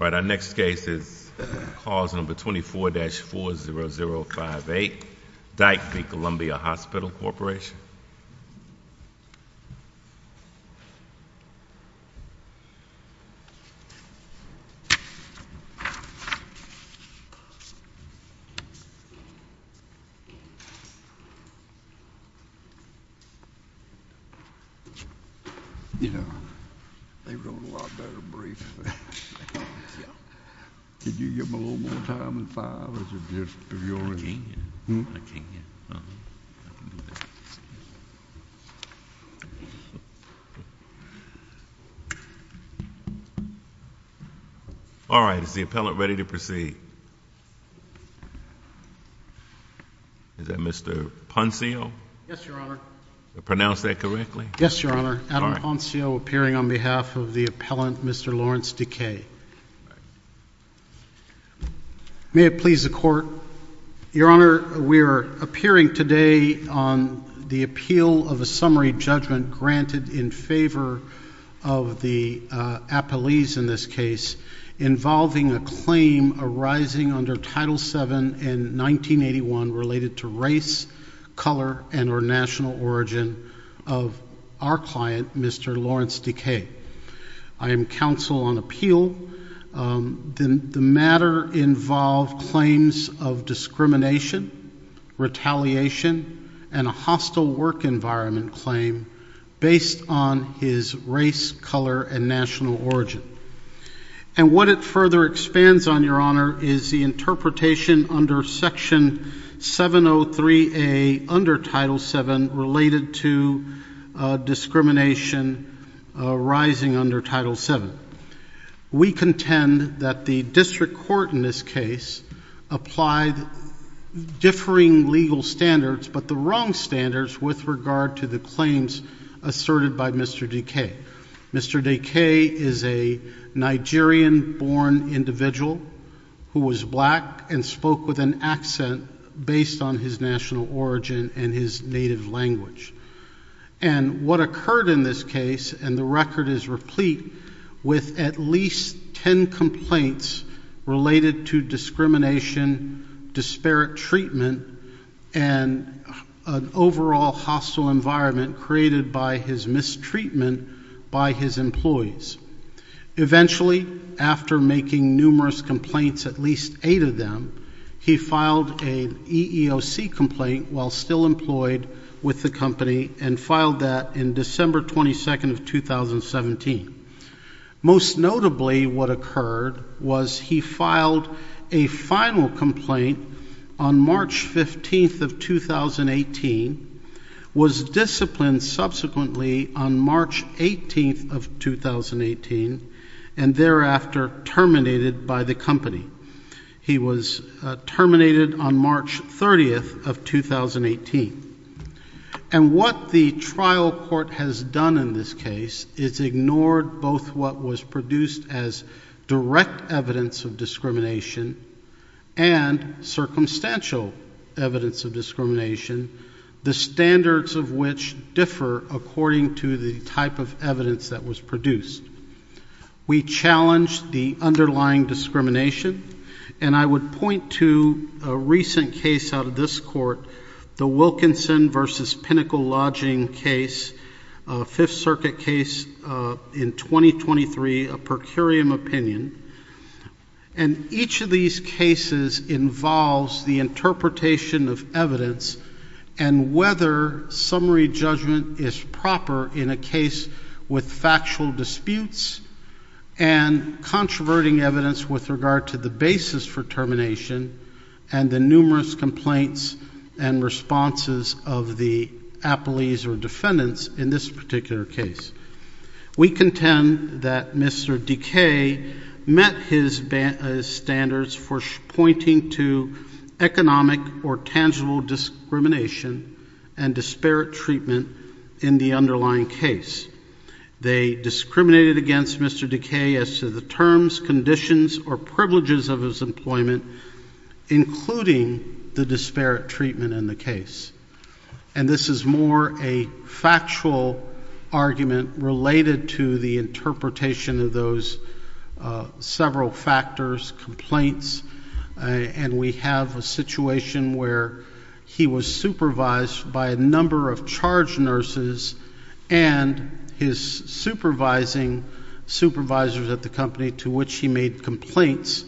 All right, our next case is cause number 24-40058, Dike v. Columbia Hospital Corporation. You know, they wrote a lot better briefs than that. Yeah. Can you give them a little more time in five? All right, is the appellant ready to proceed? Is that Mr. Ponceo? Yes, Your Honor. Pronounce that correctly? Yes, Your Honor. Adam Ponceo appearing on behalf of the appellant, Mr. Lawrence Dike. May it please the Court. Your Honor, we are appearing today on the appeal of a summary judgment granted in favor of the appellees in this case, involving a claim arising under Title VII in 1981 related to race, color, and or national origin of our client, Mr. Lawrence Dike. I am counsel on appeal. The matter involved claims of discrimination, retaliation, and a hostile work environment claim based on his race, color, and national origin. And what it further expands on, Your Honor, is the interpretation under Section 703A under Title VII related to discrimination arising under Title VII. We contend that the district court in this case applied differing legal standards but the wrong standards with regard to the claims asserted by Mr. Dike. Mr. Dike is a Nigerian-born individual who was black and spoke with an accent based on his national origin and his native language. And what occurred in this case, and the record is replete, with at least ten complaints related to discrimination, disparate treatment, and an overall hostile environment created by his mistreatment by his employees. Eventually, after making numerous complaints, at least eight of them, he filed an EEOC complaint while still employed with the company and filed that in December 22nd of 2017. Most notably, what occurred was he filed a final complaint on March 15th of 2018, was disciplined subsequently on March 18th of 2018, and thereafter terminated by the company. He was terminated on March 30th of 2018. And what the trial court has done in this case is ignored both what was produced as direct evidence of discrimination and circumstantial evidence of discrimination, the standards of which differ according to the type of evidence that was produced. We challenged the underlying discrimination, and I would point to a recent case out of this court, the Wilkinson v. Pinnacle Lodging case, a Fifth Circuit case in 2023, a per curiam opinion. And each of these cases involves the interpretation of evidence and whether summary judgment is proper in a case with factual disputes and controverting evidence with regard to the basis for termination and the numerous complaints and responses of the appellees or defendants in this particular case. We contend that Mr. Dekay met his standards for pointing to economic or tangible discrimination and disparate treatment in the underlying case. They discriminated against Mr. Dekay as to the terms, conditions, or privileges of his employment, including the disparate treatment in the case. And this is more a factual argument related to the interpretation of those several factors, complaints. And we have a situation where he was supervised by a number of charge nurses and his supervising supervisors at the company to which he made complaints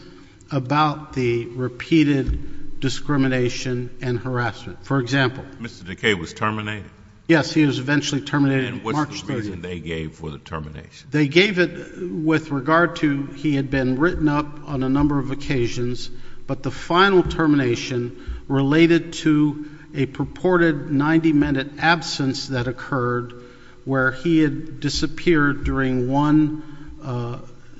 about the repeated discrimination and harassment. For example. Mr. Dekay was terminated? Yes, he was eventually terminated March 30th. And what's the reason they gave for the termination? They gave it with regard to he had been written up on a number of occasions, but the final termination related to a purported 90-minute absence that occurred where he had disappeared during one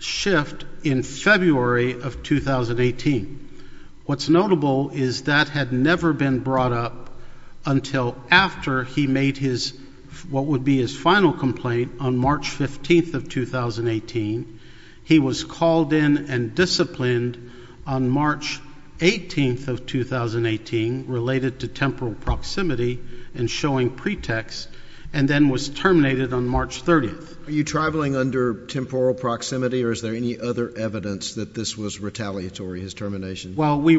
shift in February of 2018. What's notable is that had never been brought up until after he made his, what would be his final complaint on March 15th of 2018. He was called in and disciplined on March 18th of 2018 related to temporal proximity and showing pretext and then was terminated on March 30th. Are you traveling under temporal proximity or is there any other evidence that this was retaliatory, his termination? Well, we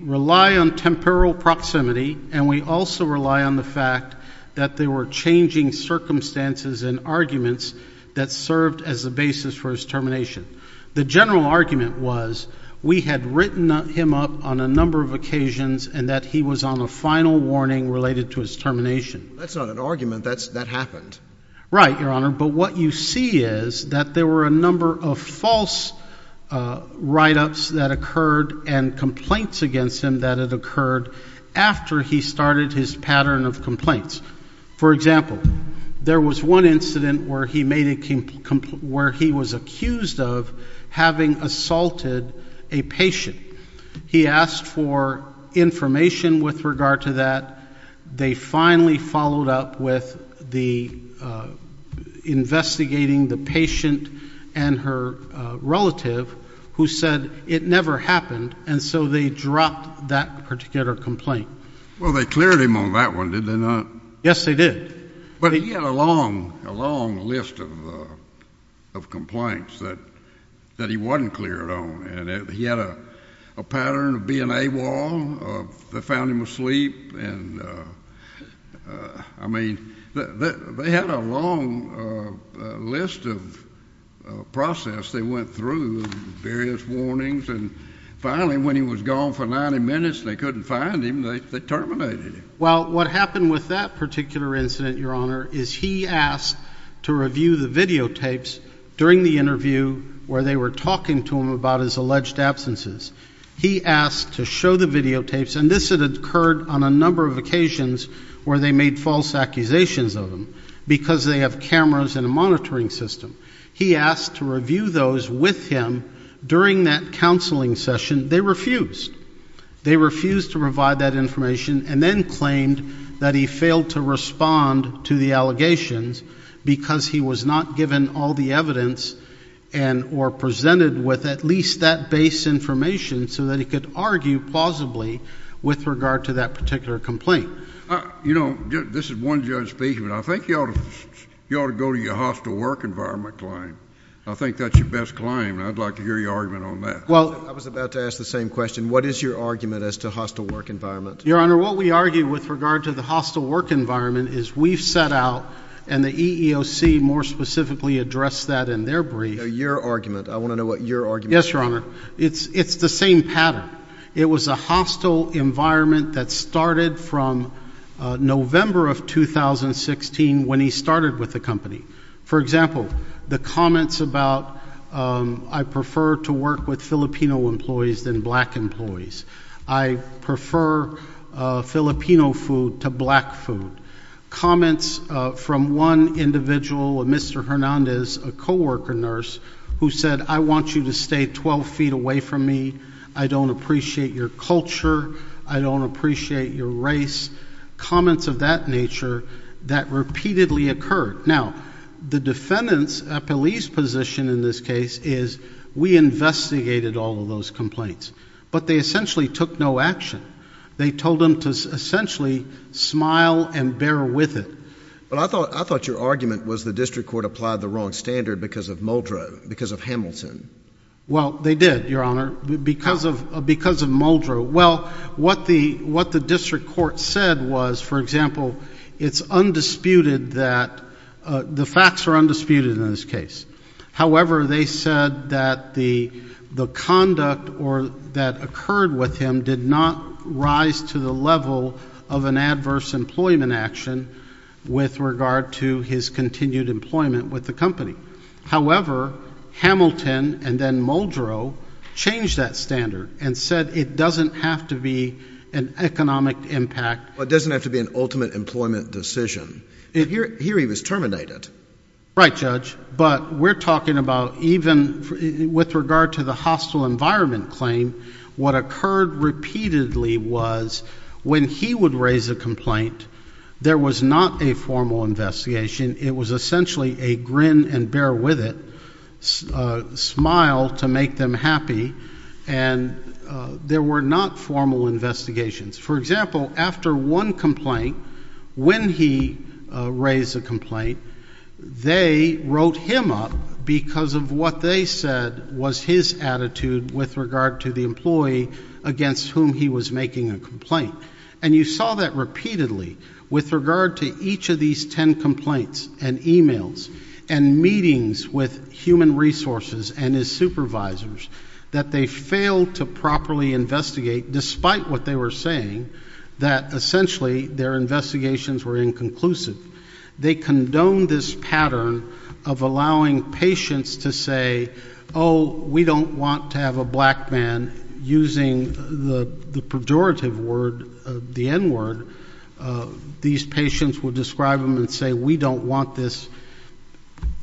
rely on temporal proximity and we also rely on the fact that there were changing circumstances and arguments that served as a basis for his termination. The general argument was we had written him up on a number of occasions and that he was on a final warning related to his termination. That's not an argument. That happened. Right, Your Honor, but what you see is that there were a number of false write-ups that occurred and complaints against him that had occurred after he started his pattern of complaints. For example, there was one incident where he was accused of having assaulted a patient. He asked for information with regard to that. They finally followed up with the investigating the patient and her relative who said it never happened and so they dropped that particular complaint. Well, they cleared him on that one, did they not? Yes, they did. But he had a long list of complaints that he wasn't cleared on and he had a pattern of being AWOL. They found him asleep and, I mean, they had a long list of process they went through, various warnings, and finally when he was gone for 90 minutes and they couldn't find him, they terminated him. Well, what happened with that particular incident, Your Honor, is he asked to review the videotapes during the interview where they were talking to him about his alleged absences. He asked to show the videotapes and this had occurred on a number of occasions where they made false accusations of him because they have cameras and a monitoring system. He asked to review those with him during that counseling session. They refused. They refused to provide that information and then claimed that he failed to respond to the allegations because he was not given all the evidence and or presented with at least that base information so that he could argue plausibly with regard to that particular complaint. You know, this is one judge speaking, but I think you ought to go to your hostile work environment client. I think that's your best client and I'd like to hear your argument on that. I was about to ask the same question. What is your argument as to hostile work environment? Your Honor, what we argue with regard to the hostile work environment is we've set out and the EEOC more specifically addressed that in their brief. Your argument. I want to know what your argument is. Yes, Your Honor. It's the same pattern. It was a hostile environment that started from November of 2016 when he started with the company. For example, the comments about I prefer to work with Filipino employees than black employees. I prefer Filipino food to black food. Comments from one individual, Mr. Hernandez, a co-worker nurse, who said I want you to stay 12 feet away from me. I don't appreciate your culture. I don't appreciate your race. Comments of that nature that repeatedly occurred. Now, the defendant's police position in this case is we investigated all of those complaints. But they essentially took no action. They told them to essentially smile and bear with it. But I thought your argument was the district court applied the wrong standard because of Muldrow, because of Hamilton. Well, they did, Your Honor, because of Muldrow. Well, what the district court said was, for example, it's undisputed that the facts are undisputed in this case. However, they said that the conduct that occurred with him did not rise to the level of an adverse employment action with regard to his continued employment with the company. However, Hamilton and then Muldrow changed that standard and said it doesn't have to be an economic impact. Well, it doesn't have to be an ultimate employment decision. Here he was terminated. Right, Judge. But we're talking about even with regard to the hostile environment claim, what occurred repeatedly was when he would raise a complaint, there was not a formal investigation. It was essentially a grin and bear with it, smile to make them happy, and there were not formal investigations. For example, after one complaint, when he raised a complaint, they wrote him up because of what they said was his attitude with regard to the employee against whom he was making a complaint. And you saw that repeatedly with regard to each of these ten complaints and emails and meetings with human resources and his supervisors, that they failed to properly investigate despite what they were saying, that essentially their investigations were inconclusive. They condoned this pattern of allowing patients to say, oh, we don't want to have a black man using the pejorative word, the N word. These patients would describe him and say, we don't want this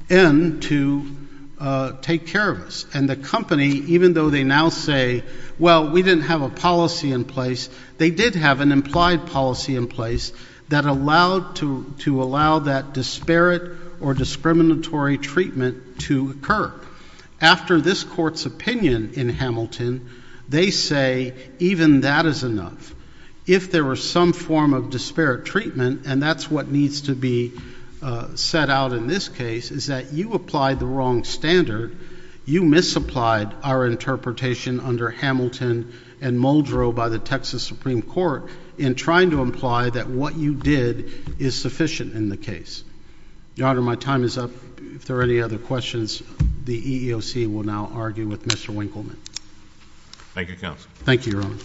N to take care of us. And the company, even though they now say, well, we didn't have a policy in place, they did have an implied policy in place that allowed to allow that disparate or discriminatory treatment to occur. After this court's opinion in Hamilton, they say even that is enough. If there were some form of disparate treatment, and that's what needs to be set out in this case, is that you applied the wrong standard. You misapplied our interpretation under Hamilton and Muldrow by the Texas Supreme Court in trying to imply that what you did is sufficient in the case. Your Honor, my time is up. If there are any other questions, the EEOC will now argue with Mr. Winkleman. Thank you, Counsel. Thank you, Your Honor.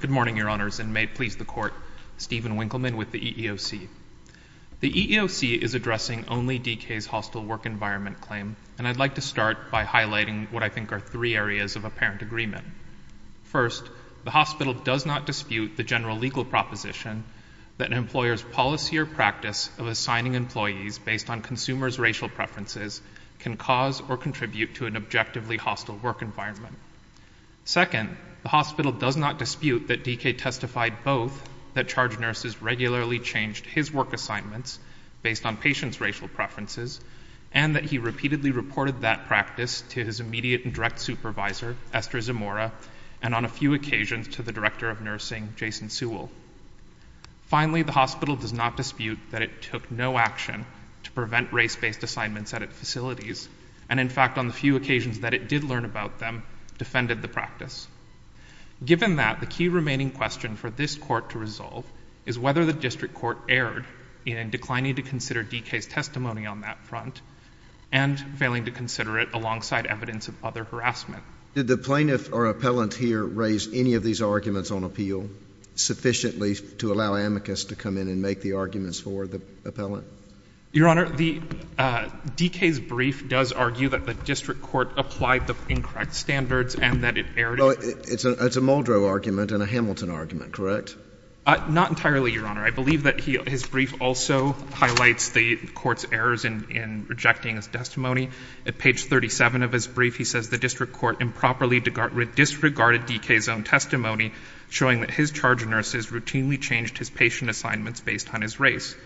Good morning, Your Honors, and may it please the Court, Stephen Winkleman with the EEOC. The EEOC is addressing only DK's hostile work environment claim, and I'd like to start by highlighting what I think are three areas of apparent agreement. First, the hospital does not dispute the general legal proposition that an employer's policy or practice of assigning employees based on consumers' racial preferences can cause or contribute to an objectively hostile work environment. Second, the hospital does not dispute that DK testified both that charge nurses regularly changed his work assignments based on patients' racial preferences and that he repeatedly reported that practice to his immediate and direct supervisor, Esther Zamora, and on a few occasions to the director of nursing, Jason Sewell. Finally, the hospital does not dispute that it took no action to prevent race-based assignments at its facilities, and in fact, on the few occasions that it did learn about them, defended the practice. Given that, the key remaining question for this Court to resolve is whether the district court erred in declining to consider DK's testimony on that front and failing to consider it alongside evidence of other harassment. Did the plaintiff or appellant here raise any of these arguments on appeal sufficiently to allow amicus to come in and make the arguments for the appellant? Your Honor, DK's brief does argue that the district court applied the incorrect standards and that it erred. It's a Muldrow argument and a Hamilton argument, correct? Not entirely, Your Honor. I believe that his brief also highlights the court's errors in rejecting his testimony. At page 37 of his brief, he says the district court improperly disregarded DK's own testimony, showing that his charge of nurses routinely changed his patient assignments based on his race.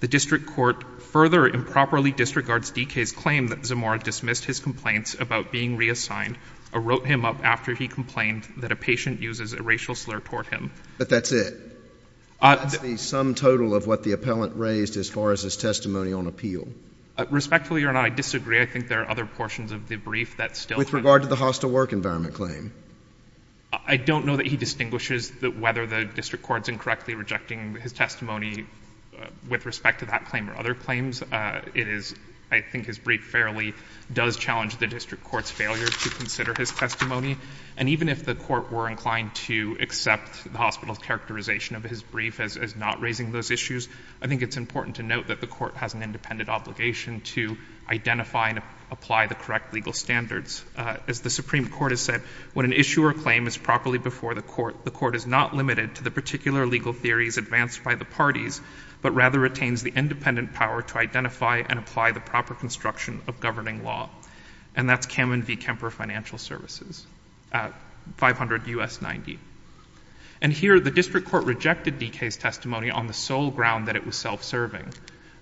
The district court further improperly disregards DK's claim that Zamora dismissed his complaints about being reassigned or wrote him up after he complained that a patient uses a racial slur toward him. But that's it? That's the sum total of what the appellant raised as far as his testimony on appeal? Respectfully, Your Honor, I disagree. I think there are other portions of the brief that still— With regard to the hostile work environment claim? I don't know that he distinguishes whether the district court is incorrectly rejecting his testimony with respect to that claim or other claims. It is—I think his brief fairly does challenge the district court's failure to consider his testimony. And even if the court were inclined to accept the hospital's characterization of his brief as not raising those issues, I think it's important to note that the court has an independent obligation to identify and apply the correct legal standards. As the Supreme Court has said, when an issue or claim is properly before the court, the court is not limited to the particular legal theories advanced by the parties, but rather retains the independent power to identify and apply the proper construction of governing law. And that's Kamen v. Kemper Financial Services, 500 U.S. 90. And here, the district court rejected DK's testimony on the sole ground that it was self-serving.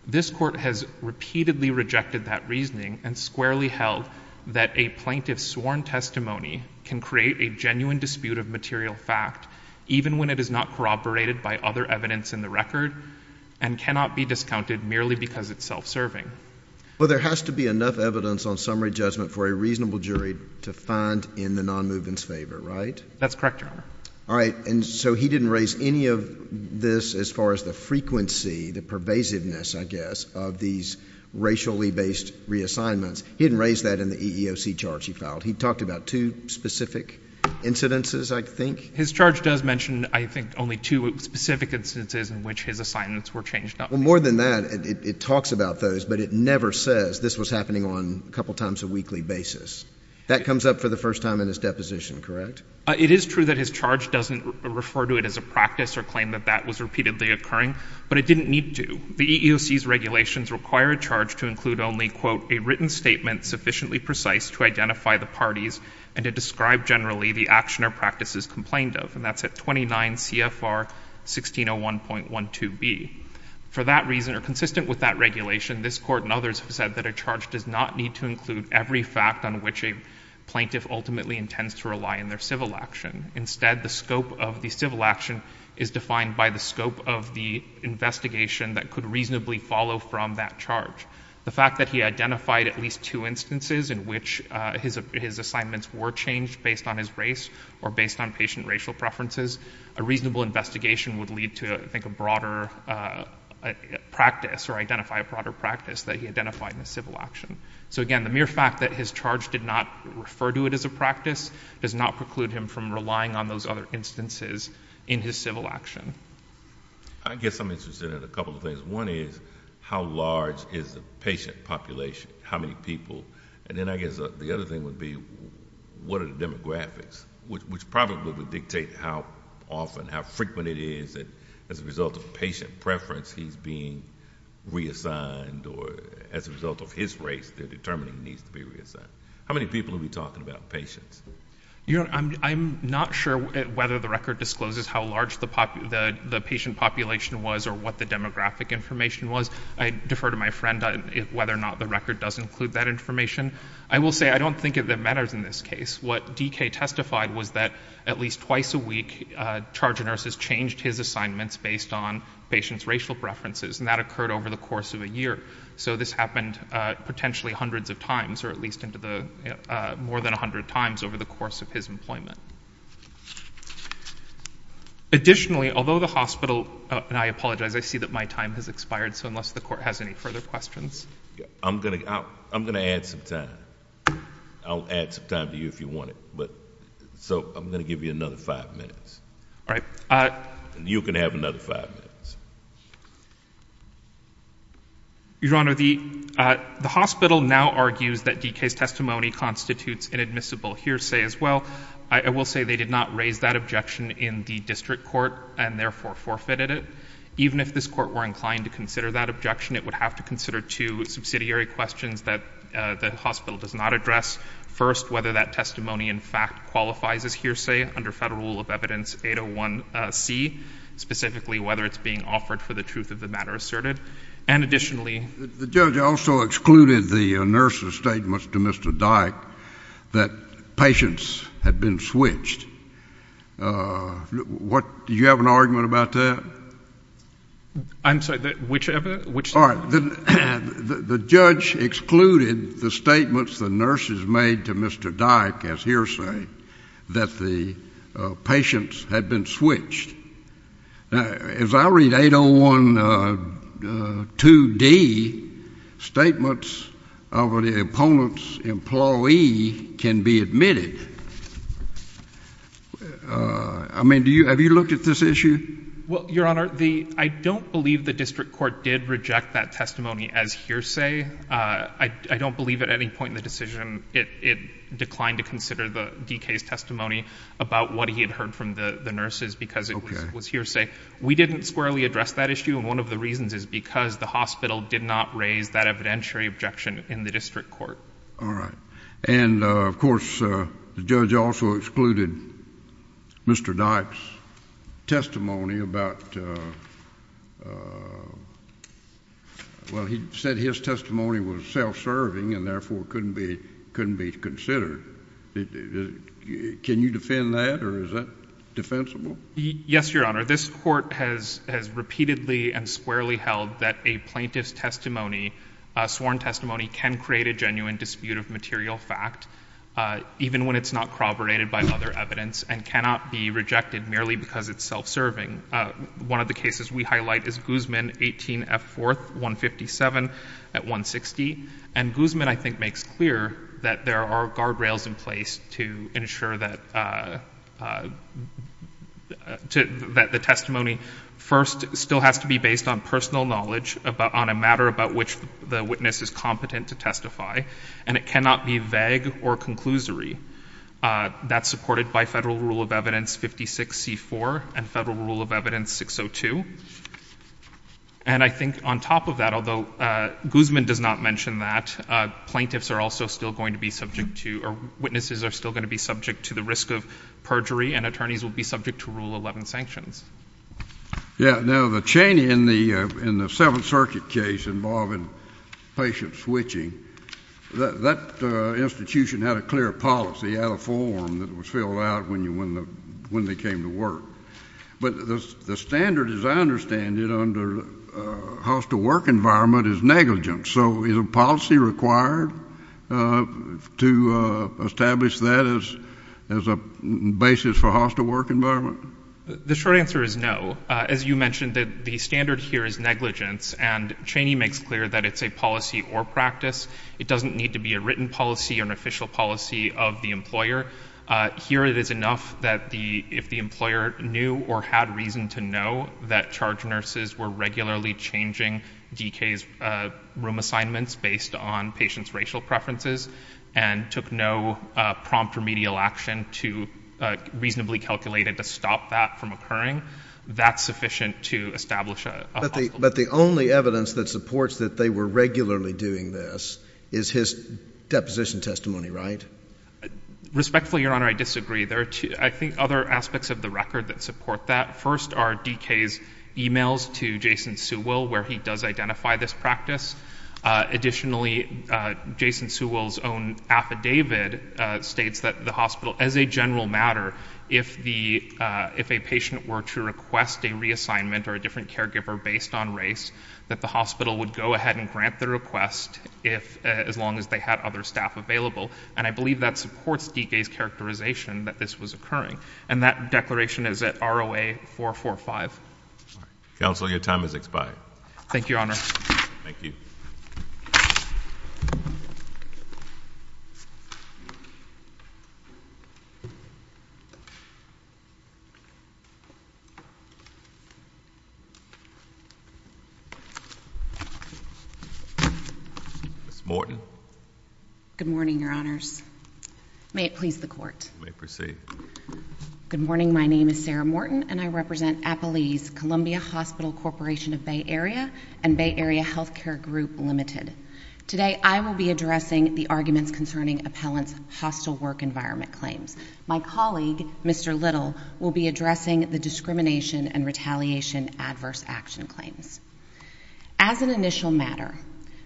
This court has repeatedly rejected that reasoning and squarely held that a plaintiff's sworn testimony can create a genuine dispute of material fact, even when it is not corroborated by other evidence in the record and cannot be discounted merely because it's self-serving. Well, there has to be enough evidence on summary judgment for a reasonable jury to find in the nonmovement's favor, right? That's correct, Your Honor. All right, and so he didn't raise any of this as far as the frequency, the pervasiveness, I guess, of these racially-based reassignments. He didn't raise that in the EEOC charge he filed. He talked about two specific incidences, I think. His charge does mention, I think, only two specific instances in which his assignments were changed. Well, more than that, it talks about those, but it never says this was happening on a couple times a weekly basis. That comes up for the first time in his deposition, correct? It is true that his charge doesn't refer to it as a practice or claim that that was repeatedly occurring, but it didn't need to. The EEOC's regulations require a charge to include only, quote, a written statement sufficiently precise to identify the parties and to describe generally the action or practices complained of. And that's at 29 CFR 1601.12b. For that reason, or consistent with that regulation, this Court and others have said that a charge does not need to include every fact on which a plaintiff ultimately intends to rely in their civil action. Instead, the scope of the civil action is defined by the scope of the investigation that could reasonably follow from that charge. The fact that he identified at least two instances in which his assignments were changed based on his race or based on patient racial preferences, a reasonable investigation would lead to, I think, a broader practice or identify a broader practice that he identified in the civil action. So, again, the mere fact that his charge did not refer to it as a practice does not preclude him from relying on those other instances in his civil action. I guess I'm interested in a couple of things. One is how large is the patient population, how many people? And then I guess the other thing would be what are the demographics, which probably would dictate how often, how frequent it is that as a result of patient preference, he's being reassigned or as a result of his race, the determining needs to be reassigned. How many people are we talking about patients? I'm not sure whether the record discloses how large the patient population was or what the demographic information was. I defer to my friend whether or not the record does include that information. I will say I don't think it matters in this case. What D.K. testified was that at least twice a week, charge of nurses changed his assignments based on patients' racial preferences, and that occurred over the course of a year. So this happened potentially hundreds of times or at least more than a hundred times over the course of his employment. Additionally, although the hospital, and I apologize, I see that my time has expired, so unless the court has any further questions. I'm going to add some time. I'll add some time to you if you want it. So I'm going to give you another five minutes. All right. You can have another five minutes. Your Honor, the hospital now argues that D.K.'s testimony constitutes inadmissible hearsay as well. I will say they did not raise that objection in the district court and therefore forfeited it. Even if this court were inclined to consider that objection, it would have to consider two subsidiary questions that the hospital does not address. First, whether that testimony in fact qualifies as hearsay under federal rule of evidence 801C, specifically whether it's being offered for the truth of the matter asserted. And additionally. The judge also excluded the nurse's statements to Mr. Dyck that patients had been switched. What? Do you have an argument about that? I'm sorry. Whichever? All right. The judge excluded the statements the nurses made to Mr. Dyck as hearsay that the patients had been switched. As I read 801 2D, statements of the opponent's employee can be admitted. I mean, have you looked at this issue? Well, Your Honor, I don't believe the district court did reject that testimony as hearsay. I don't believe at any point in the decision it declined to consider D.K.'s testimony about what he had heard from the nurses because it was hearsay. We didn't squarely address that issue. And one of the reasons is because the hospital did not raise that evidentiary objection in the district court. All right. And, of course, the judge also excluded Mr. Dyck's testimony about, well, he said his testimony was self-serving and therefore couldn't be considered. Can you defend that? Or is that defensible? Yes, Your Honor. This court has repeatedly and squarely held that a plaintiff's testimony, sworn testimony, can create a genuine dispute of material fact even when it's not corroborated by other evidence and cannot be rejected merely because it's self-serving. One of the cases we highlight is Guzman, 18F 4th, 157 at 160. And Guzman, I think, makes clear that there are guardrails in place to ensure that the testimony, first, still has to be based on personal knowledge on a matter about which the witness is competent to testify and it cannot be vague or conclusory. That's supported by Federal Rule of Evidence 56C4 and Federal Rule of Evidence 602. And I think on top of that, although Guzman does not mention that, plaintiffs are also still going to be subject to or witnesses are still going to be subject to the risk of perjury and attorneys will be subject to Rule 11 sanctions. Yeah. Now, the Cheney in the Seventh Circuit case involving patient switching, that institution had a clear policy, had a form that was filled out when they came to work. But the standard, as I understand it, under hostile work environment is negligence. So is a policy required to establish that as a basis for hostile work environment? The short answer is no. As you mentioned, the standard here is negligence, and Cheney makes clear that it's a policy or practice. It doesn't need to be a written policy or an official policy of the employer. Here it is enough that if the employer knew or had reason to know that charge nurses were regularly changing DK's room assignments based on patients' racial preferences and took no prompt remedial action to reasonably calculate it to stop that from occurring, that's sufficient to establish a policy. But the only evidence that supports that they were regularly doing this is his deposition testimony, right? Respectfully, Your Honor, I disagree. There are, I think, other aspects of the record that support that. First are DK's emails to Jason Sewell where he does identify this practice. Additionally, Jason Sewell's own affidavit states that the hospital, as a general matter, if a patient were to request a reassignment or a different caregiver based on race, that the hospital would go ahead and grant the request as long as they had other staff available. And I believe that supports DK's characterization that this was occurring. And that declaration is at ROA 445. Counsel, your time has expired. Thank you, Your Honor. Thank you. Ms. Morton. Good morning, Your Honors. May it please the Court. You may proceed. Good morning. My name is Sarah Morton, and I represent Appalese Columbia Hospital Corporation of Bay Area and Bay Area Healthcare Group Limited. Today, I will be addressing the arguments concerning appellant's hostile work environment claims. My colleague, Mr. Little, will be addressing the discrimination and retaliation adverse action claims. As an initial matter,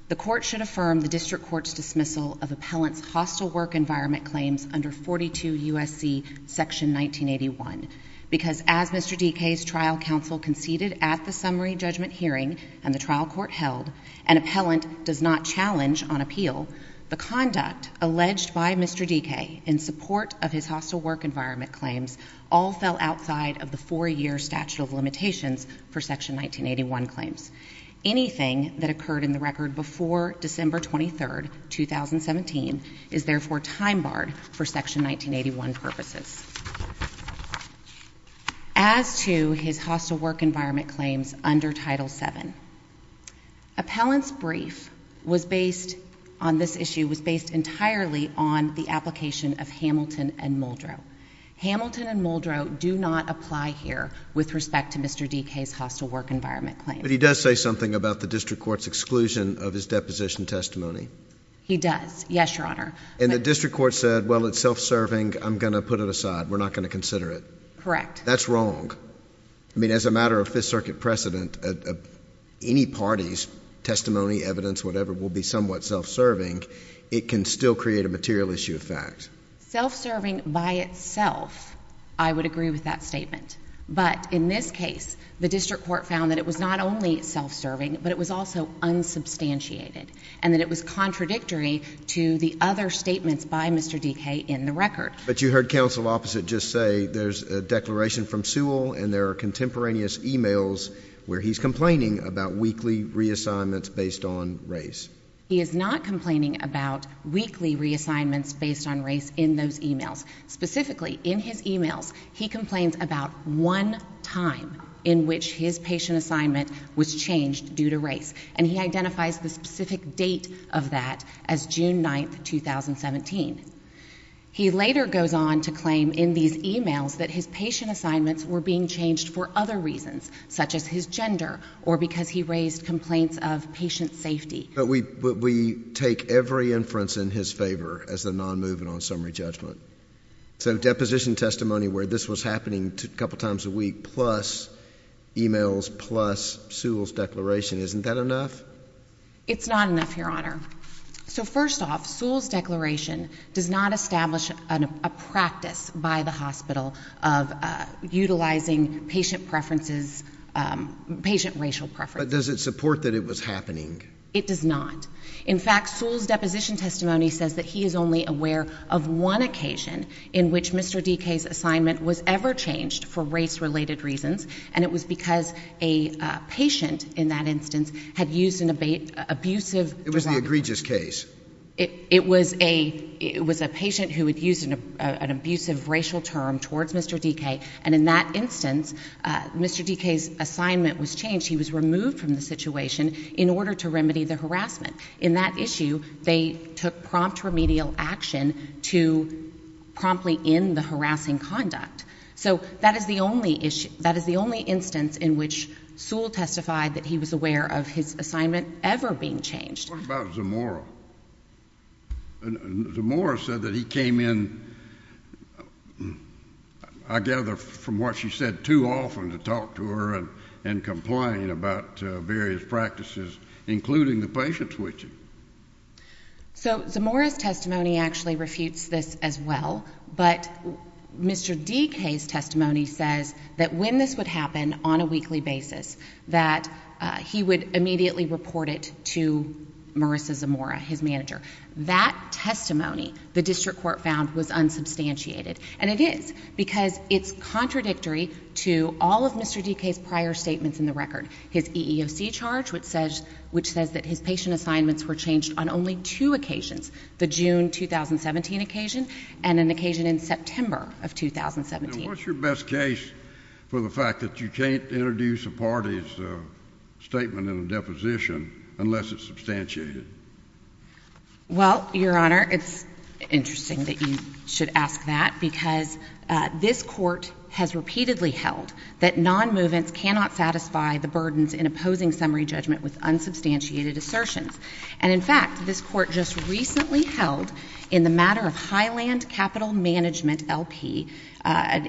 the Court should affirm the District Court's dismissal of appellant's hostile work environment claims under 42 U.S.C. Section 1981, because as Mr. DK's trial counsel conceded at the summary judgment hearing and the trial court held, an appellant does not challenge on appeal the conduct alleged by Mr. DK in support of his hostile work environment claims all fell outside of the four-year statute of limitations for Section 1981 claims. Anything that occurred in the record before December 23, 2017, is therefore time-barred for Section 1981 purposes. As to his hostile work environment claims under Title VII, appellant's brief on this issue was based entirely on the application of Hamilton and Muldrow. Hamilton and Muldrow do not apply here with respect to Mr. DK's hostile work environment claims. But he does say something about the District Court's exclusion of his deposition testimony. He does. Yes, Your Honor. And the District Court said, well, it's self-serving. I'm going to put it aside. We're not going to consider it. Correct. That's wrong. I mean, as a matter of Fifth Circuit precedent, any party's testimony, evidence, whatever, will be somewhat self-serving. It can still create a material issue of fact. Self-serving by itself, I would agree with that statement. But in this case, the District Court found that it was not only self-serving, but it was also unsubstantiated, and that it was contradictory to the other statements by Mr. DK in the record. But you heard counsel opposite just say there's a declaration from Sewell and there are contemporaneous emails where he's complaining about weekly reassignments based on race. He is not complaining about weekly reassignments based on race in those emails. Specifically, in his emails, he complains about one time in which his patient assignment was changed due to race. And he identifies the specific date of that as June 9, 2017. He later goes on to claim in these emails that his patient assignments were being changed for other reasons, such as his gender or because he raised complaints of patient safety. But we take every inference in his favor as a non-movement on summary judgment. So deposition testimony where this was happening a couple times a week plus emails plus Sewell's declaration, isn't that enough? It's not enough, Your Honor. So first off, Sewell's declaration does not establish a practice by the hospital of utilizing patient preferences, patient racial preferences. But does it support that it was happening? It does not. In fact, Sewell's deposition testimony says that he is only aware of one occasion in which Mr. Dike's assignment was ever changed for race-related reasons, and it was because a patient, in that instance, had used an abusive derogatory term. It was the egregious case. It was a patient who had used an abusive racial term towards Mr. Dike, and in that instance, Mr. Dike's assignment was changed. He was removed from the situation in order to remedy the harassment. In that issue, they took prompt remedial action to promptly end the harassing conduct. So that is the only instance in which Sewell testified that he was aware of his assignment ever being changed. What about Zamora? Zamora said that he came in, I gather, from what she said, too often to talk to her and complain about various practices, including the patient switching. So Zamora's testimony actually refutes this as well, but Mr. Dike's testimony says that when this would happen on a weekly basis, that he would immediately report it to Marissa Zamora, his manager. That testimony, the district court found, was unsubstantiated. And it is, because it's contradictory to all of Mr. Dike's prior statements in the record. His EEOC charge, which says that his patient assignments were changed on only two occasions, the June 2017 occasion and an occasion in September of 2017. And what's your best case for the fact that you can't introduce a party's statement in a deposition unless it's substantiated? Well, Your Honor, it's interesting that you should ask that, because this court has repeatedly held that nonmovements cannot satisfy the burdens in opposing summary judgment with unsubstantiated assertions. And in fact, this court just recently held in the matter of Highland Capital Management LP, an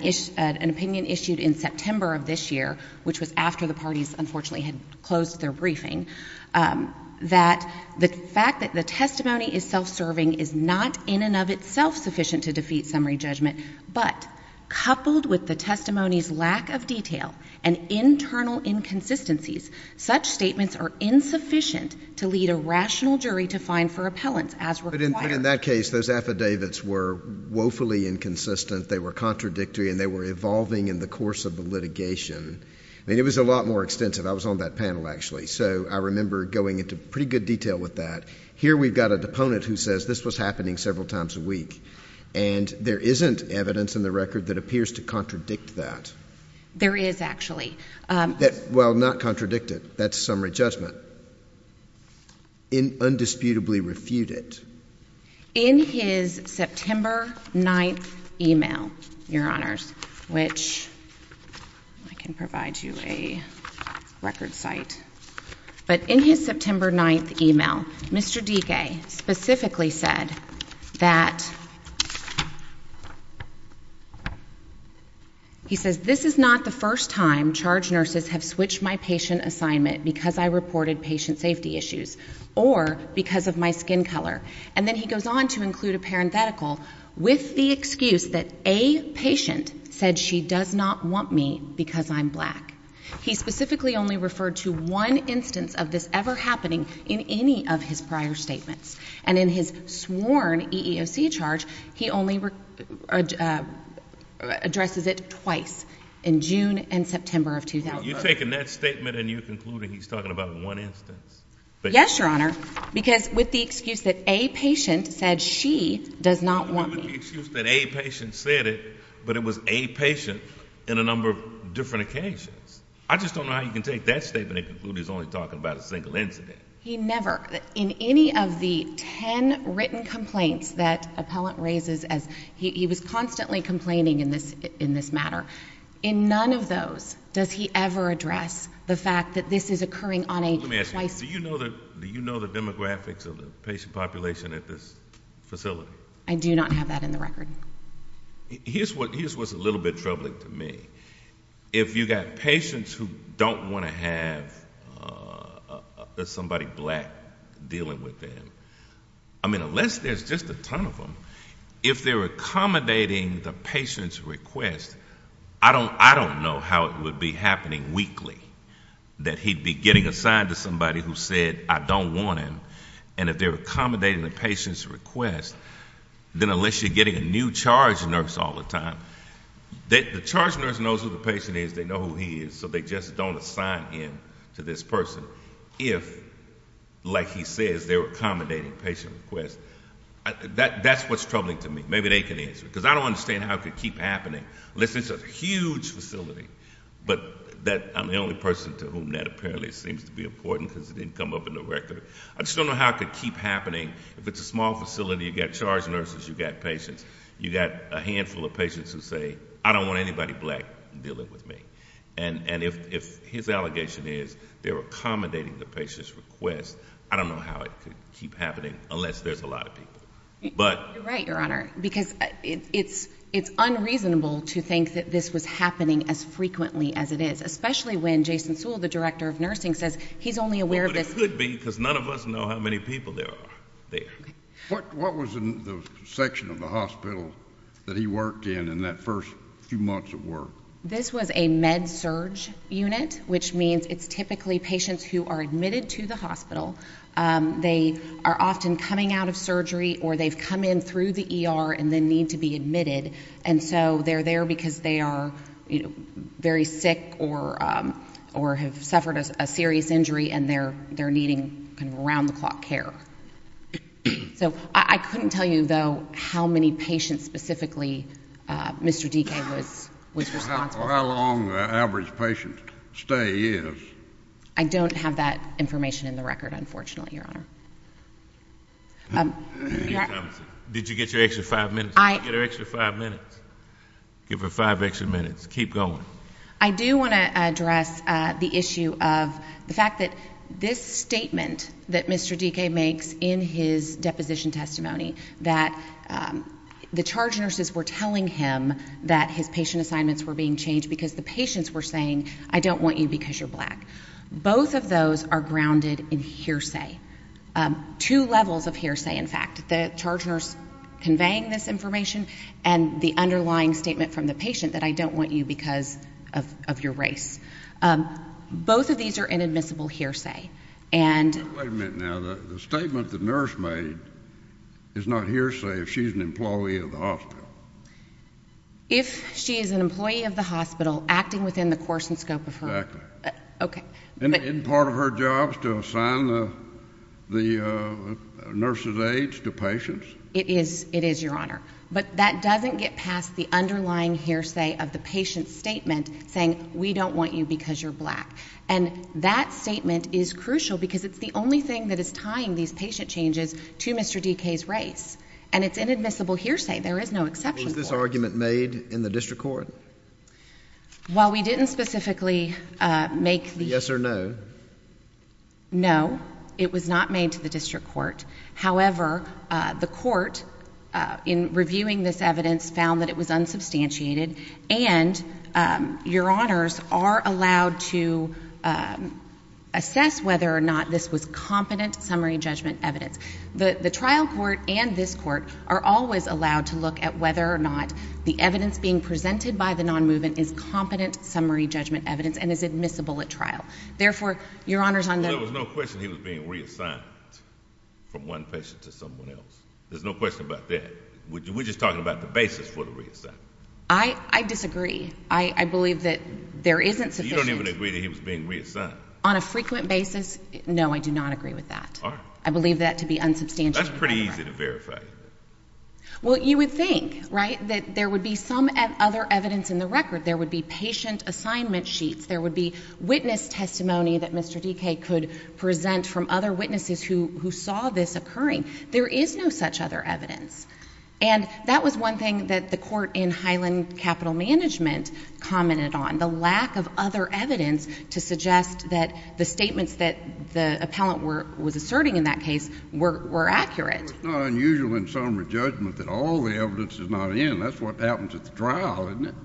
opinion issued in September of this year, which was after the parties unfortunately had closed their briefing, that the fact that the testimony is self-serving is not in and of itself sufficient to defeat summary judgment. But coupled with the testimony's lack of detail and internal inconsistencies, such statements are insufficient to lead a rational jury to find for appellants as required. But in that case, those affidavits were woefully inconsistent, they were contradictory, and they were evolving in the course of the litigation. I mean, it was a lot more extensive. I was on that panel, actually, so I remember going into pretty good detail with that. Here we've got a deponent who says this was happening several times a week, and there isn't evidence in the record that appears to contradict that. There is, actually. Well, not contradict it. That's summary judgment. Undisputably refute it. In his September 9th email, Your Honors, which I can provide you a record site. But in his September 9th email, Mr. DeGay specifically said that, he says, this is not the first time charge nurses have switched my patient assignment because I reported patient safety issues or because of my skin color. And then he goes on to include a parenthetical with the excuse that a patient said she does not want me because I'm black. He specifically only referred to one instance of this ever happening in any of his prior statements. And in his sworn EEOC charge, he only addresses it twice, in June and September of 2003. You're taking that statement and you're concluding he's talking about one instance? Yes, Your Honor, because with the excuse that a patient said she does not want me. With the excuse that a patient said it, but it was a patient in a number of different occasions. I just don't know how you can take that statement and conclude he's only talking about a single incident. He never, in any of the ten written complaints that appellant raises, he was constantly complaining in this matter. In none of those does he ever address the fact that this is occurring on a twice. Let me ask you, do you know the demographics of the patient population at this facility? I do not have that in the record. Here's what's a little bit troubling to me. If you've got patients who don't want to have somebody black dealing with them, I mean, unless there's just a ton of them, if they're accommodating the patient's request, I don't know how it would be happening weekly, that he'd be getting assigned to somebody who said, I don't want him, and if they're accommodating the patient's request, then unless you're getting a new charge nurse all the time, the charge nurse knows who the patient is, they know who he is, so they just don't assign him to this person. If, like he says, they're accommodating the patient's request, that's what's troubling to me. Maybe they can answer. Because I don't understand how it could keep happening, unless it's a huge facility. But I'm the only person to whom that apparently seems to be important because it didn't come up in the record. I just don't know how it could keep happening. If it's a small facility, you've got charge nurses, you've got patients, you've got a handful of patients who say, I don't want anybody black dealing with me. And if his allegation is they're accommodating the patient's request, I don't know how it could keep happening unless there's a lot of people. You're right, Your Honor, because it's unreasonable to think that this was happening as frequently as it is, especially when Jason Sewell, the director of nursing, says he's only aware of this. It could be because none of us know how many people there are there. What was in the section of the hospital that he worked in in that first few months of work? This was a med-surg unit, which means it's typically patients who are admitted to the hospital. They are often coming out of surgery or they've come in through the ER and then need to be admitted. And so they're there because they are very sick or have suffered a serious injury and they're needing kind of around-the-clock care. So I couldn't tell you, though, how many patients specifically Mr. Dekay was responsible for. How long the average patient stay is. I don't have that information in the record, unfortunately, Your Honor. Did you get your extra five minutes? Get her extra five minutes. Give her five extra minutes. Keep going. I do want to address the issue of the fact that this statement that Mr. Dekay makes in his deposition testimony, that the charge nurses were telling him that his patient assignments were being changed because the patients were saying, I don't want you because you're black. Both of those are grounded in hearsay, two levels of hearsay, in fact, the charge nurse conveying this information and the underlying statement from the patient that I don't want you because of your race. Both of these are inadmissible hearsay. Wait a minute now. The statement the nurse made is not hearsay if she's an employee of the hospital. If she is an employee of the hospital acting within the course and scope of her. Okay. Isn't part of her job to assign the nurse's aides to patients? It is, Your Honor. But that doesn't get past the underlying hearsay of the patient's statement saying, we don't want you because you're black. And that statement is crucial because it's the only thing that is tying these patient changes to Mr. Dekay's race. And it's inadmissible hearsay. There is no exception for it. Is this argument made in the district court? While we didn't specifically make the Yes or no? No. It was not made to the district court. However, the court, in reviewing this evidence, found that it was unsubstantiated. And, Your Honors, are allowed to assess whether or not this was competent summary judgment evidence. The trial court and this court are always allowed to look at whether or not the evidence being presented by the non-movement is competent summary judgment evidence and is admissible at trial. Therefore, Your Honors, on the Well, there was no question he was being reassigned from one patient to someone else. There's no question about that. We're just talking about the basis for the reassignment. I disagree. I believe that there isn't sufficient You don't even agree that he was being reassigned. On a frequent basis, no, I do not agree with that. I believe that to be unsubstantiated. That's pretty easy to verify. Well, you would think, right, that there would be some other evidence in the record. There would be patient assignment sheets. There would be witness testimony that Mr. Dike could present from other witnesses who saw this occurring. There is no such other evidence. And that was one thing that the court in Highland Capital Management commented on, the lack of other evidence to suggest that the statements that the appellant was asserting in that case were accurate. Well, it's not unusual in summary judgment that all the evidence is not in. That's what happens at the trial, isn't it?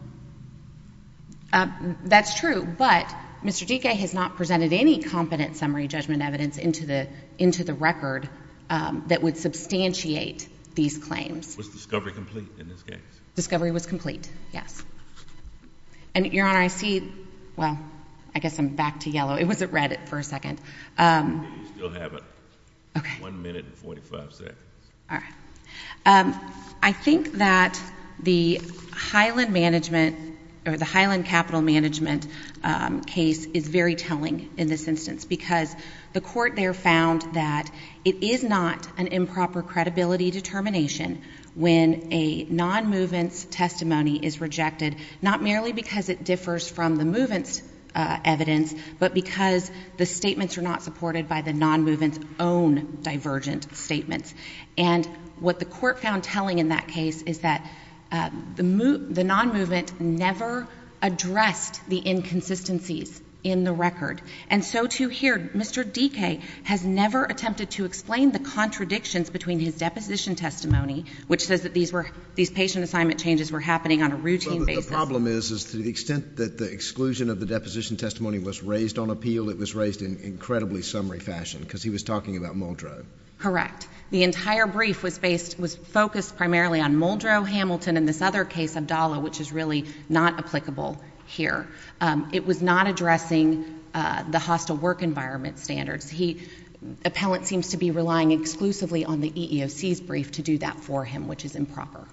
That's true, but Mr. Dike has not presented any competent summary judgment evidence into the record that would substantiate these claims. Was discovery complete in this case? Discovery was complete, yes. And, Your Honor, I see, well, I guess I'm back to yellow. It wasn't red for a second. You still have it. One minute and 45 seconds. All right. I think that the Highland Capital Management case is very telling in this instance because the court there found that it is not an improper credibility determination when a non-movement's testimony is rejected, not merely because it differs from the movement's evidence, but because the statements are not supported by the non-movement's own divergent statements. And what the court found telling in that case is that the non-movement never addressed the inconsistencies in the record. And so, too, here, Mr. Dike has never attempted to explain the contradictions between his deposition testimony, which says that these patient assignment changes were happening on a routine basis. The problem is, is to the extent that the exclusion of the deposition testimony was raised on appeal, it was raised in incredibly summary fashion because he was talking about Muldrow. Correct. The entire brief was focused primarily on Muldrow, Hamilton, and this other case, Abdallah, which is really not applicable here. It was not addressing the hostile work environment standards. Appellant seems to be relying exclusively on the EEOC's brief to do that for him, which is improper.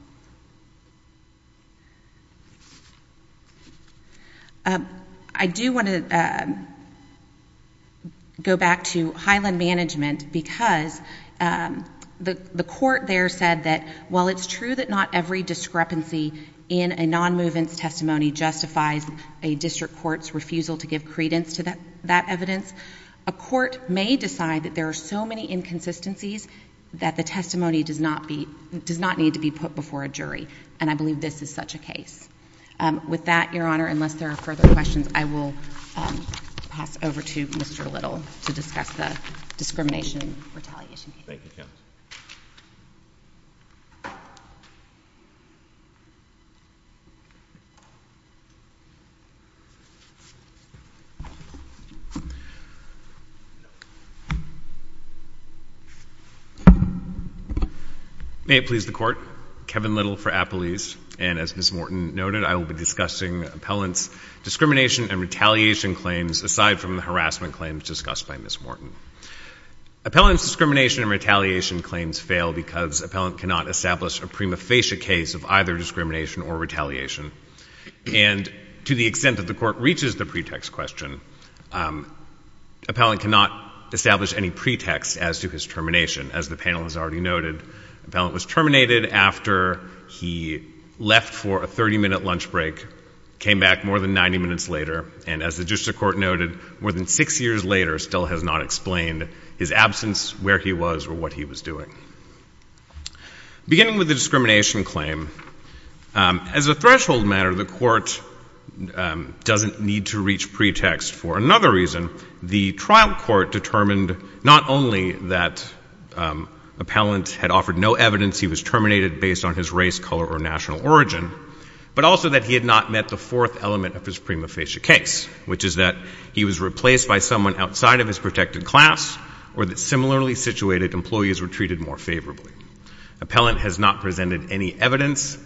I do want to go back to Highland Management because the court there said that while it's true that not every discrepancy in a non-movement's testimony justifies a district court's refusal to give credence to that evidence, a court may decide that there are so many inconsistencies that the testimony does not need to be put before a jury. And I believe this is such a case. With that, Your Honor, unless there are further questions, I will pass over to Mr. Little to discuss the discrimination retaliation case. Thank you, counsel. May it please the Court. Kevin Little for Apple East. And as Ms. Morton noted, I will be discussing appellant's discrimination and retaliation claims aside from the harassment claims discussed by Ms. Morton. Appellant's discrimination and retaliation claims fail because appellant cannot establish a prima facie case of either discrimination or retaliation. And to the extent that the court reaches the pretext question, appellant cannot establish any pretext as to his termination. As the panel has already noted, appellant was terminated after he left for a 30-minute lunch break, came back more than 90 minutes later, and as the district court noted, more than six years later still has not explained his absence, where he was, or what he was doing. Beginning with the discrimination claim, as a threshold matter, the court doesn't need to reach pretext for another reason. The trial court determined not only that appellant had offered no evidence he was terminated based on his race, color, or national origin, but also that he had not met the fourth element of his prima facie case, which is that he was replaced by someone outside of his protected class, or that similarly situated employees were treated more favorably. Appellant has not presented any evidence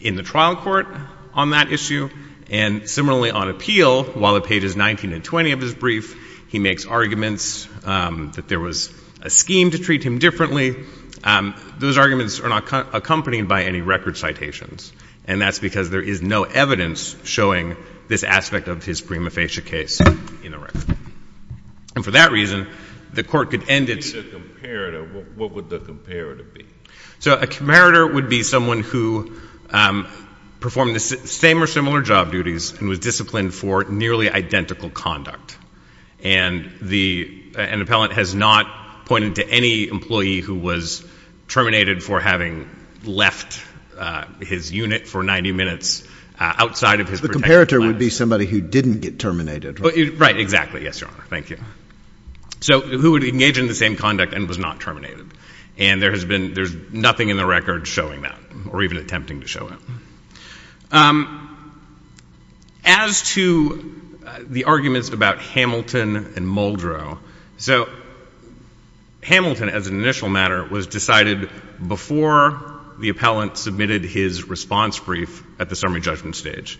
in the trial court on that issue. And similarly, on appeal, while at pages 19 and 20 of his brief, he makes arguments that there was a scheme to treat him differently. Those arguments are not accompanied by any record citations. And that's because there is no evidence showing this aspect of his prima facie case in the record. And for that reason, the court could end its— What would the comparator be? So a comparator would be someone who performed the same or similar job duties and was disciplined for nearly identical conduct. And the—an appellant has not pointed to any employee who was terminated for having left his unit for 90 minutes outside of his protected class. The comparator would be somebody who didn't get terminated, right? Right, exactly. Yes, Your Honor. Thank you. So who would engage in the same conduct and was not terminated. And there has been—there's nothing in the record showing that or even attempting to show it. As to the arguments about Hamilton and Muldrow. So Hamilton, as an initial matter, was decided before the appellant submitted his response brief at the summary judgment stage.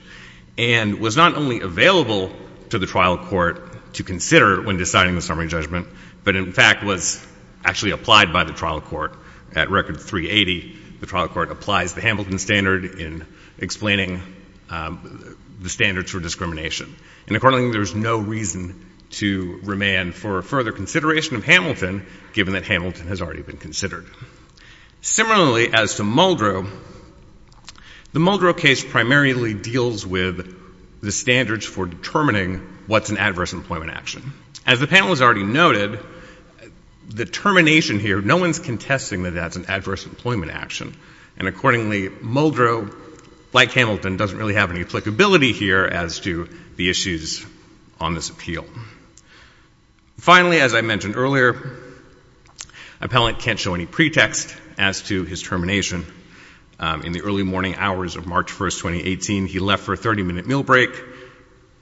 And was not only available to the trial court to consider when deciding the summary judgment, but in fact was actually applied by the trial court. At record 380, the trial court applies the Hamilton standard in explaining the standards for discrimination. And accordingly, there's no reason to remain for further consideration of Hamilton, given that Hamilton has already been considered. Similarly, as to Muldrow, the Muldrow case primarily deals with the standards for determining what's an adverse employment action. As the panel has already noted, the termination here, no one's contesting that that's an adverse employment action. And accordingly, Muldrow, like Hamilton, doesn't really have any applicability here as to the issues on this appeal. Finally, as I mentioned earlier, appellant can't show any pretext as to his termination. In the early morning hours of March 1st, 2018, he left for a 30-minute meal break,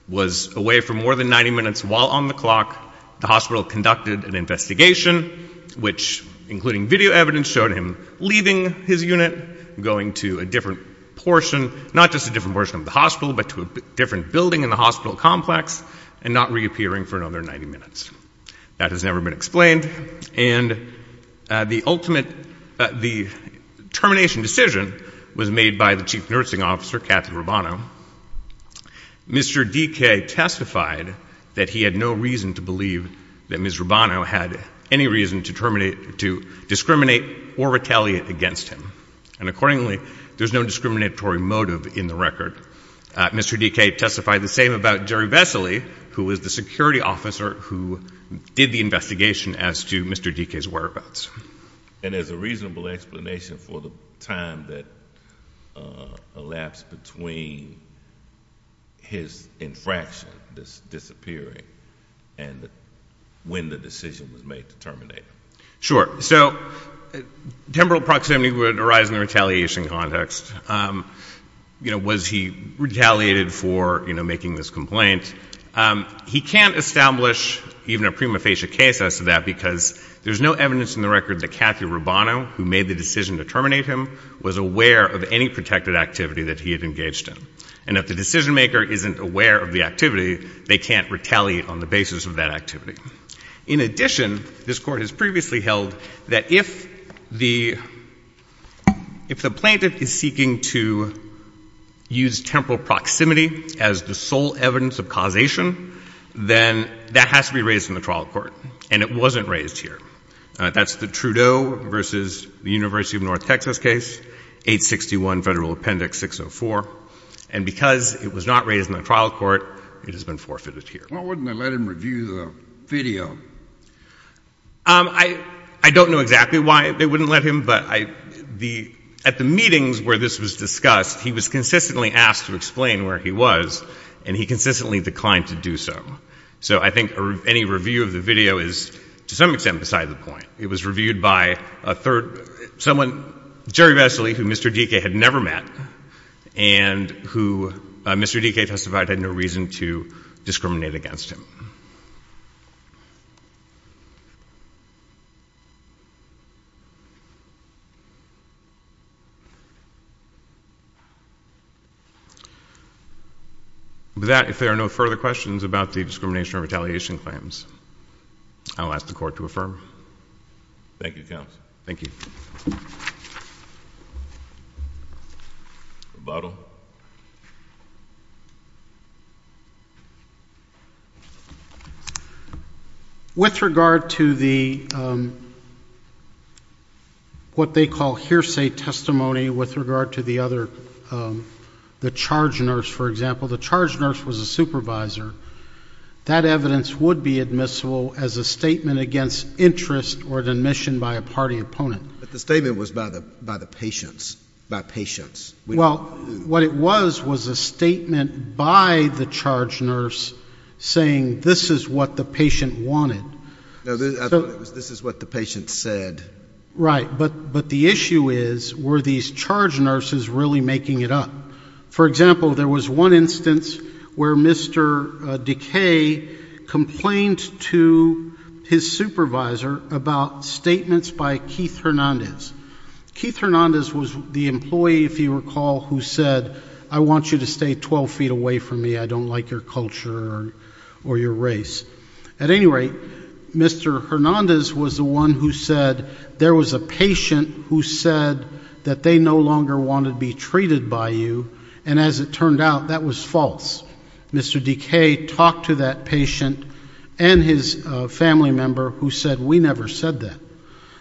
was away for more than 90 minutes while on the clock. The hospital conducted an investigation, which, including video evidence, showed him leaving his unit, going to a different portion. Not just a different portion of the hospital, but to a different building in the hospital complex, and not reappearing for another 90 minutes. That has never been explained. And the ultimate, the termination decision was made by the chief nursing officer, Kathy Rubano. Mr. Dike testified that he had no reason to believe that Ms. Rubano had any reason to discriminate or retaliate against him. And accordingly, there's no discriminatory motive in the record. Mr. Dike testified the same about Jerry Vesely, who was the security officer who did the investigation as to Mr. Dike's whereabouts. And as a reasonable explanation for the time that elapsed between his infraction disappearing and when the decision was made to terminate him. Sure. So temporal proximity would arise in the retaliation context. You know, was he retaliated for, you know, making this complaint? He can't establish even a prima facie case as to that because there's no evidence in the record that Kathy Rubano, who made the decision to terminate him, was aware of any protected activity that he had engaged in. And if the decision maker isn't aware of the activity, they can't retaliate on the basis of that activity. In addition, this Court has previously held that if the plaintiff is seeking to use temporal proximity as the sole evidence of causation, then that has to be raised in the trial court. And it wasn't raised here. That's the Trudeau versus the University of North Texas case, 861 Federal Appendix 604. And because it was not raised in the trial court, it has been forfeited here. Why wouldn't they let him review the video? I don't know exactly why they wouldn't let him, but at the meetings where this was discussed, he was consistently asked to explain where he was, and he consistently declined to do so. So I think any review of the video is, to some extent, beside the point. It was reviewed by someone, Jerry Vesely, who Mr. Dike had never met, and who Mr. Dike testified had no reason to discriminate against him. With that, if there are no further questions about the discrimination or retaliation claims, I'll ask the Court to affirm. Thank you, counsel. Thank you. Rebuttal. With regard to the what they call hearsay testimony with regard to the other, the charge nurse, for example, the charge nurse was a supervisor. That evidence would be admissible as a statement against interest or an admission by a party opponent. But the statement was by the patients, by patients. Well, what it was was a statement by the charge nurse saying this is what the patient wanted. No, I thought it was this is what the patient said. Right. But the issue is, were these charge nurses really making it up? For example, there was one instance where Mr. Dike complained to his supervisor about statements by Keith Hernandez. Keith Hernandez was the employee, if you recall, who said I want you to stay 12 feet away from me. I don't like your culture or your race. At any rate, Mr. Hernandez was the one who said there was a patient who said that they no longer wanted to be treated by you. And as it turned out, that was false. Mr. Dike talked to that patient and his family member who said we never said that.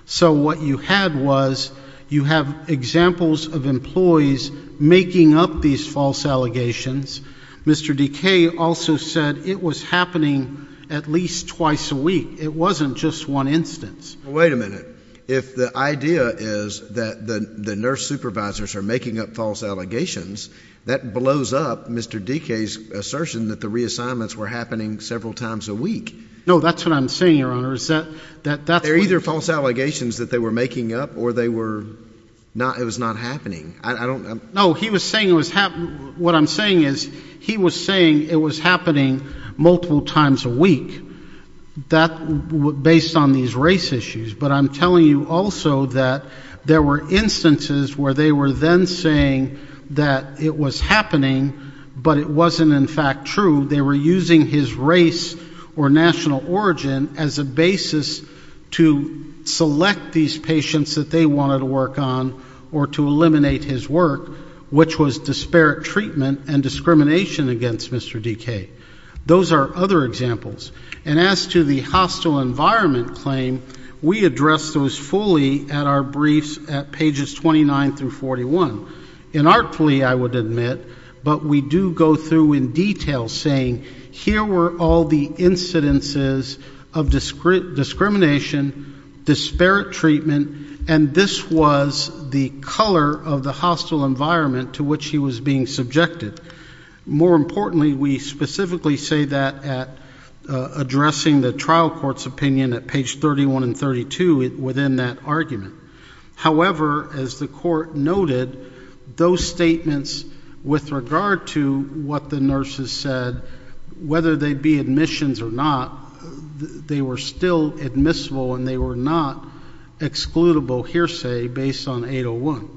So what you had was you have examples of employees making up these false allegations. Mr. Dike also said it was happening at least twice a week. It wasn't just one instance. Wait a minute. If the idea is that the nurse supervisors are making up false allegations, that blows up Mr. Dike's assertion that the reassignments were happening several times a week. No, that's what I'm saying, Your Honor. They're either false allegations that they were making up or they were not it was not happening. I don't know. No, he was saying it was what I'm saying is he was saying it was happening multiple times a week. That was based on these race issues. But I'm telling you also that there were instances where they were then saying that it was happening, but it wasn't in fact true. They were using his race or national origin as a basis to select these patients that they wanted to work on or to eliminate his work, which was disparate treatment and discrimination against Mr. Dike. Those are other examples. And as to the hostile environment claim, we addressed those fully at our briefs at pages 29 through 41. Inartfully, I would admit, but we do go through in detail saying here were all the incidences of discrimination, disparate treatment, and this was the color of the hostile environment to which he was being subjected. More importantly, we specifically say that at addressing the trial court's opinion at page 31 and 32 within that argument. However, as the court noted, those statements with regard to what the nurses said, whether they be admissions or not, they were still admissible and they were not excludable hearsay based on 801.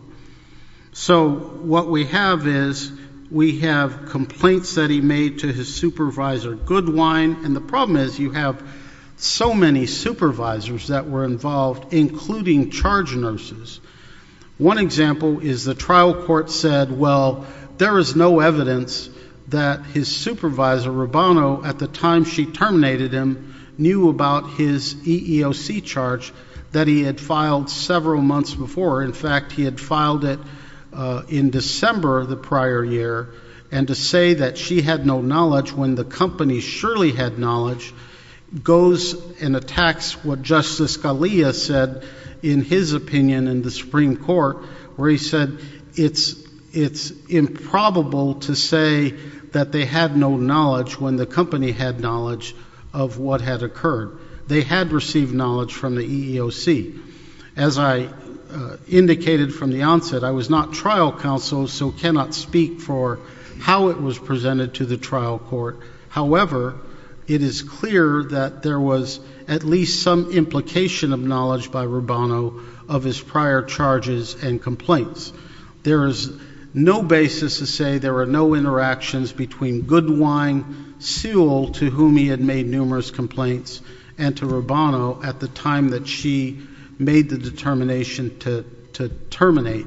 So what we have is we have complaints that he made to his supervisor, Goodwine, and the problem is you have so many supervisors that were involved, including charge nurses. One example is the trial court said, well, there is no evidence that his supervisor, Rubano, at the time she terminated him knew about his EEOC charge that he had filed several months before. In fact, he had filed it in December of the prior year. And to say that she had no knowledge when the company surely had knowledge goes and attacks what Justice Scalia said in his opinion in the Supreme Court, where he said it's improbable to say that they had no knowledge when the company had knowledge of what had occurred. They had received knowledge from the EEOC. As I indicated from the onset, I was not trial counsel, so cannot speak for how it was presented to the trial court. However, it is clear that there was at least some implication of knowledge by Rubano of his prior charges and complaints. There is no basis to say there are no interactions between Goodwine Sewell, to whom he had made numerous complaints, and to Rubano at the time that she made the determination to terminate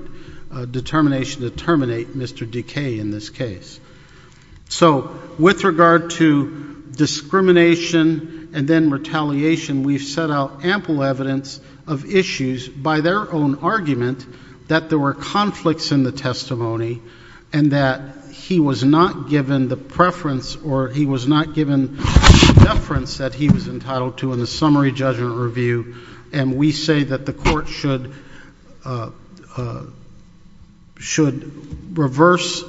Mr. Decay in this case. So with regard to discrimination and then retaliation, we've set out ample evidence of issues by their own argument that there were conflicts in the testimony. And that he was not given the preference or he was not given the deference that he was entitled to in the summary judgment review. And we say that the court should reverse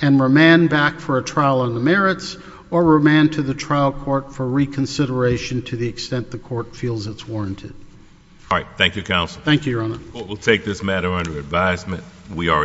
and remand back for a trial on the merits or remand to the trial court for reconsideration to the extent the court feels it's warranted. All right, thank you, Counsel. Thank you, Your Honor. The court will take this matter under advisement. We are adjourned.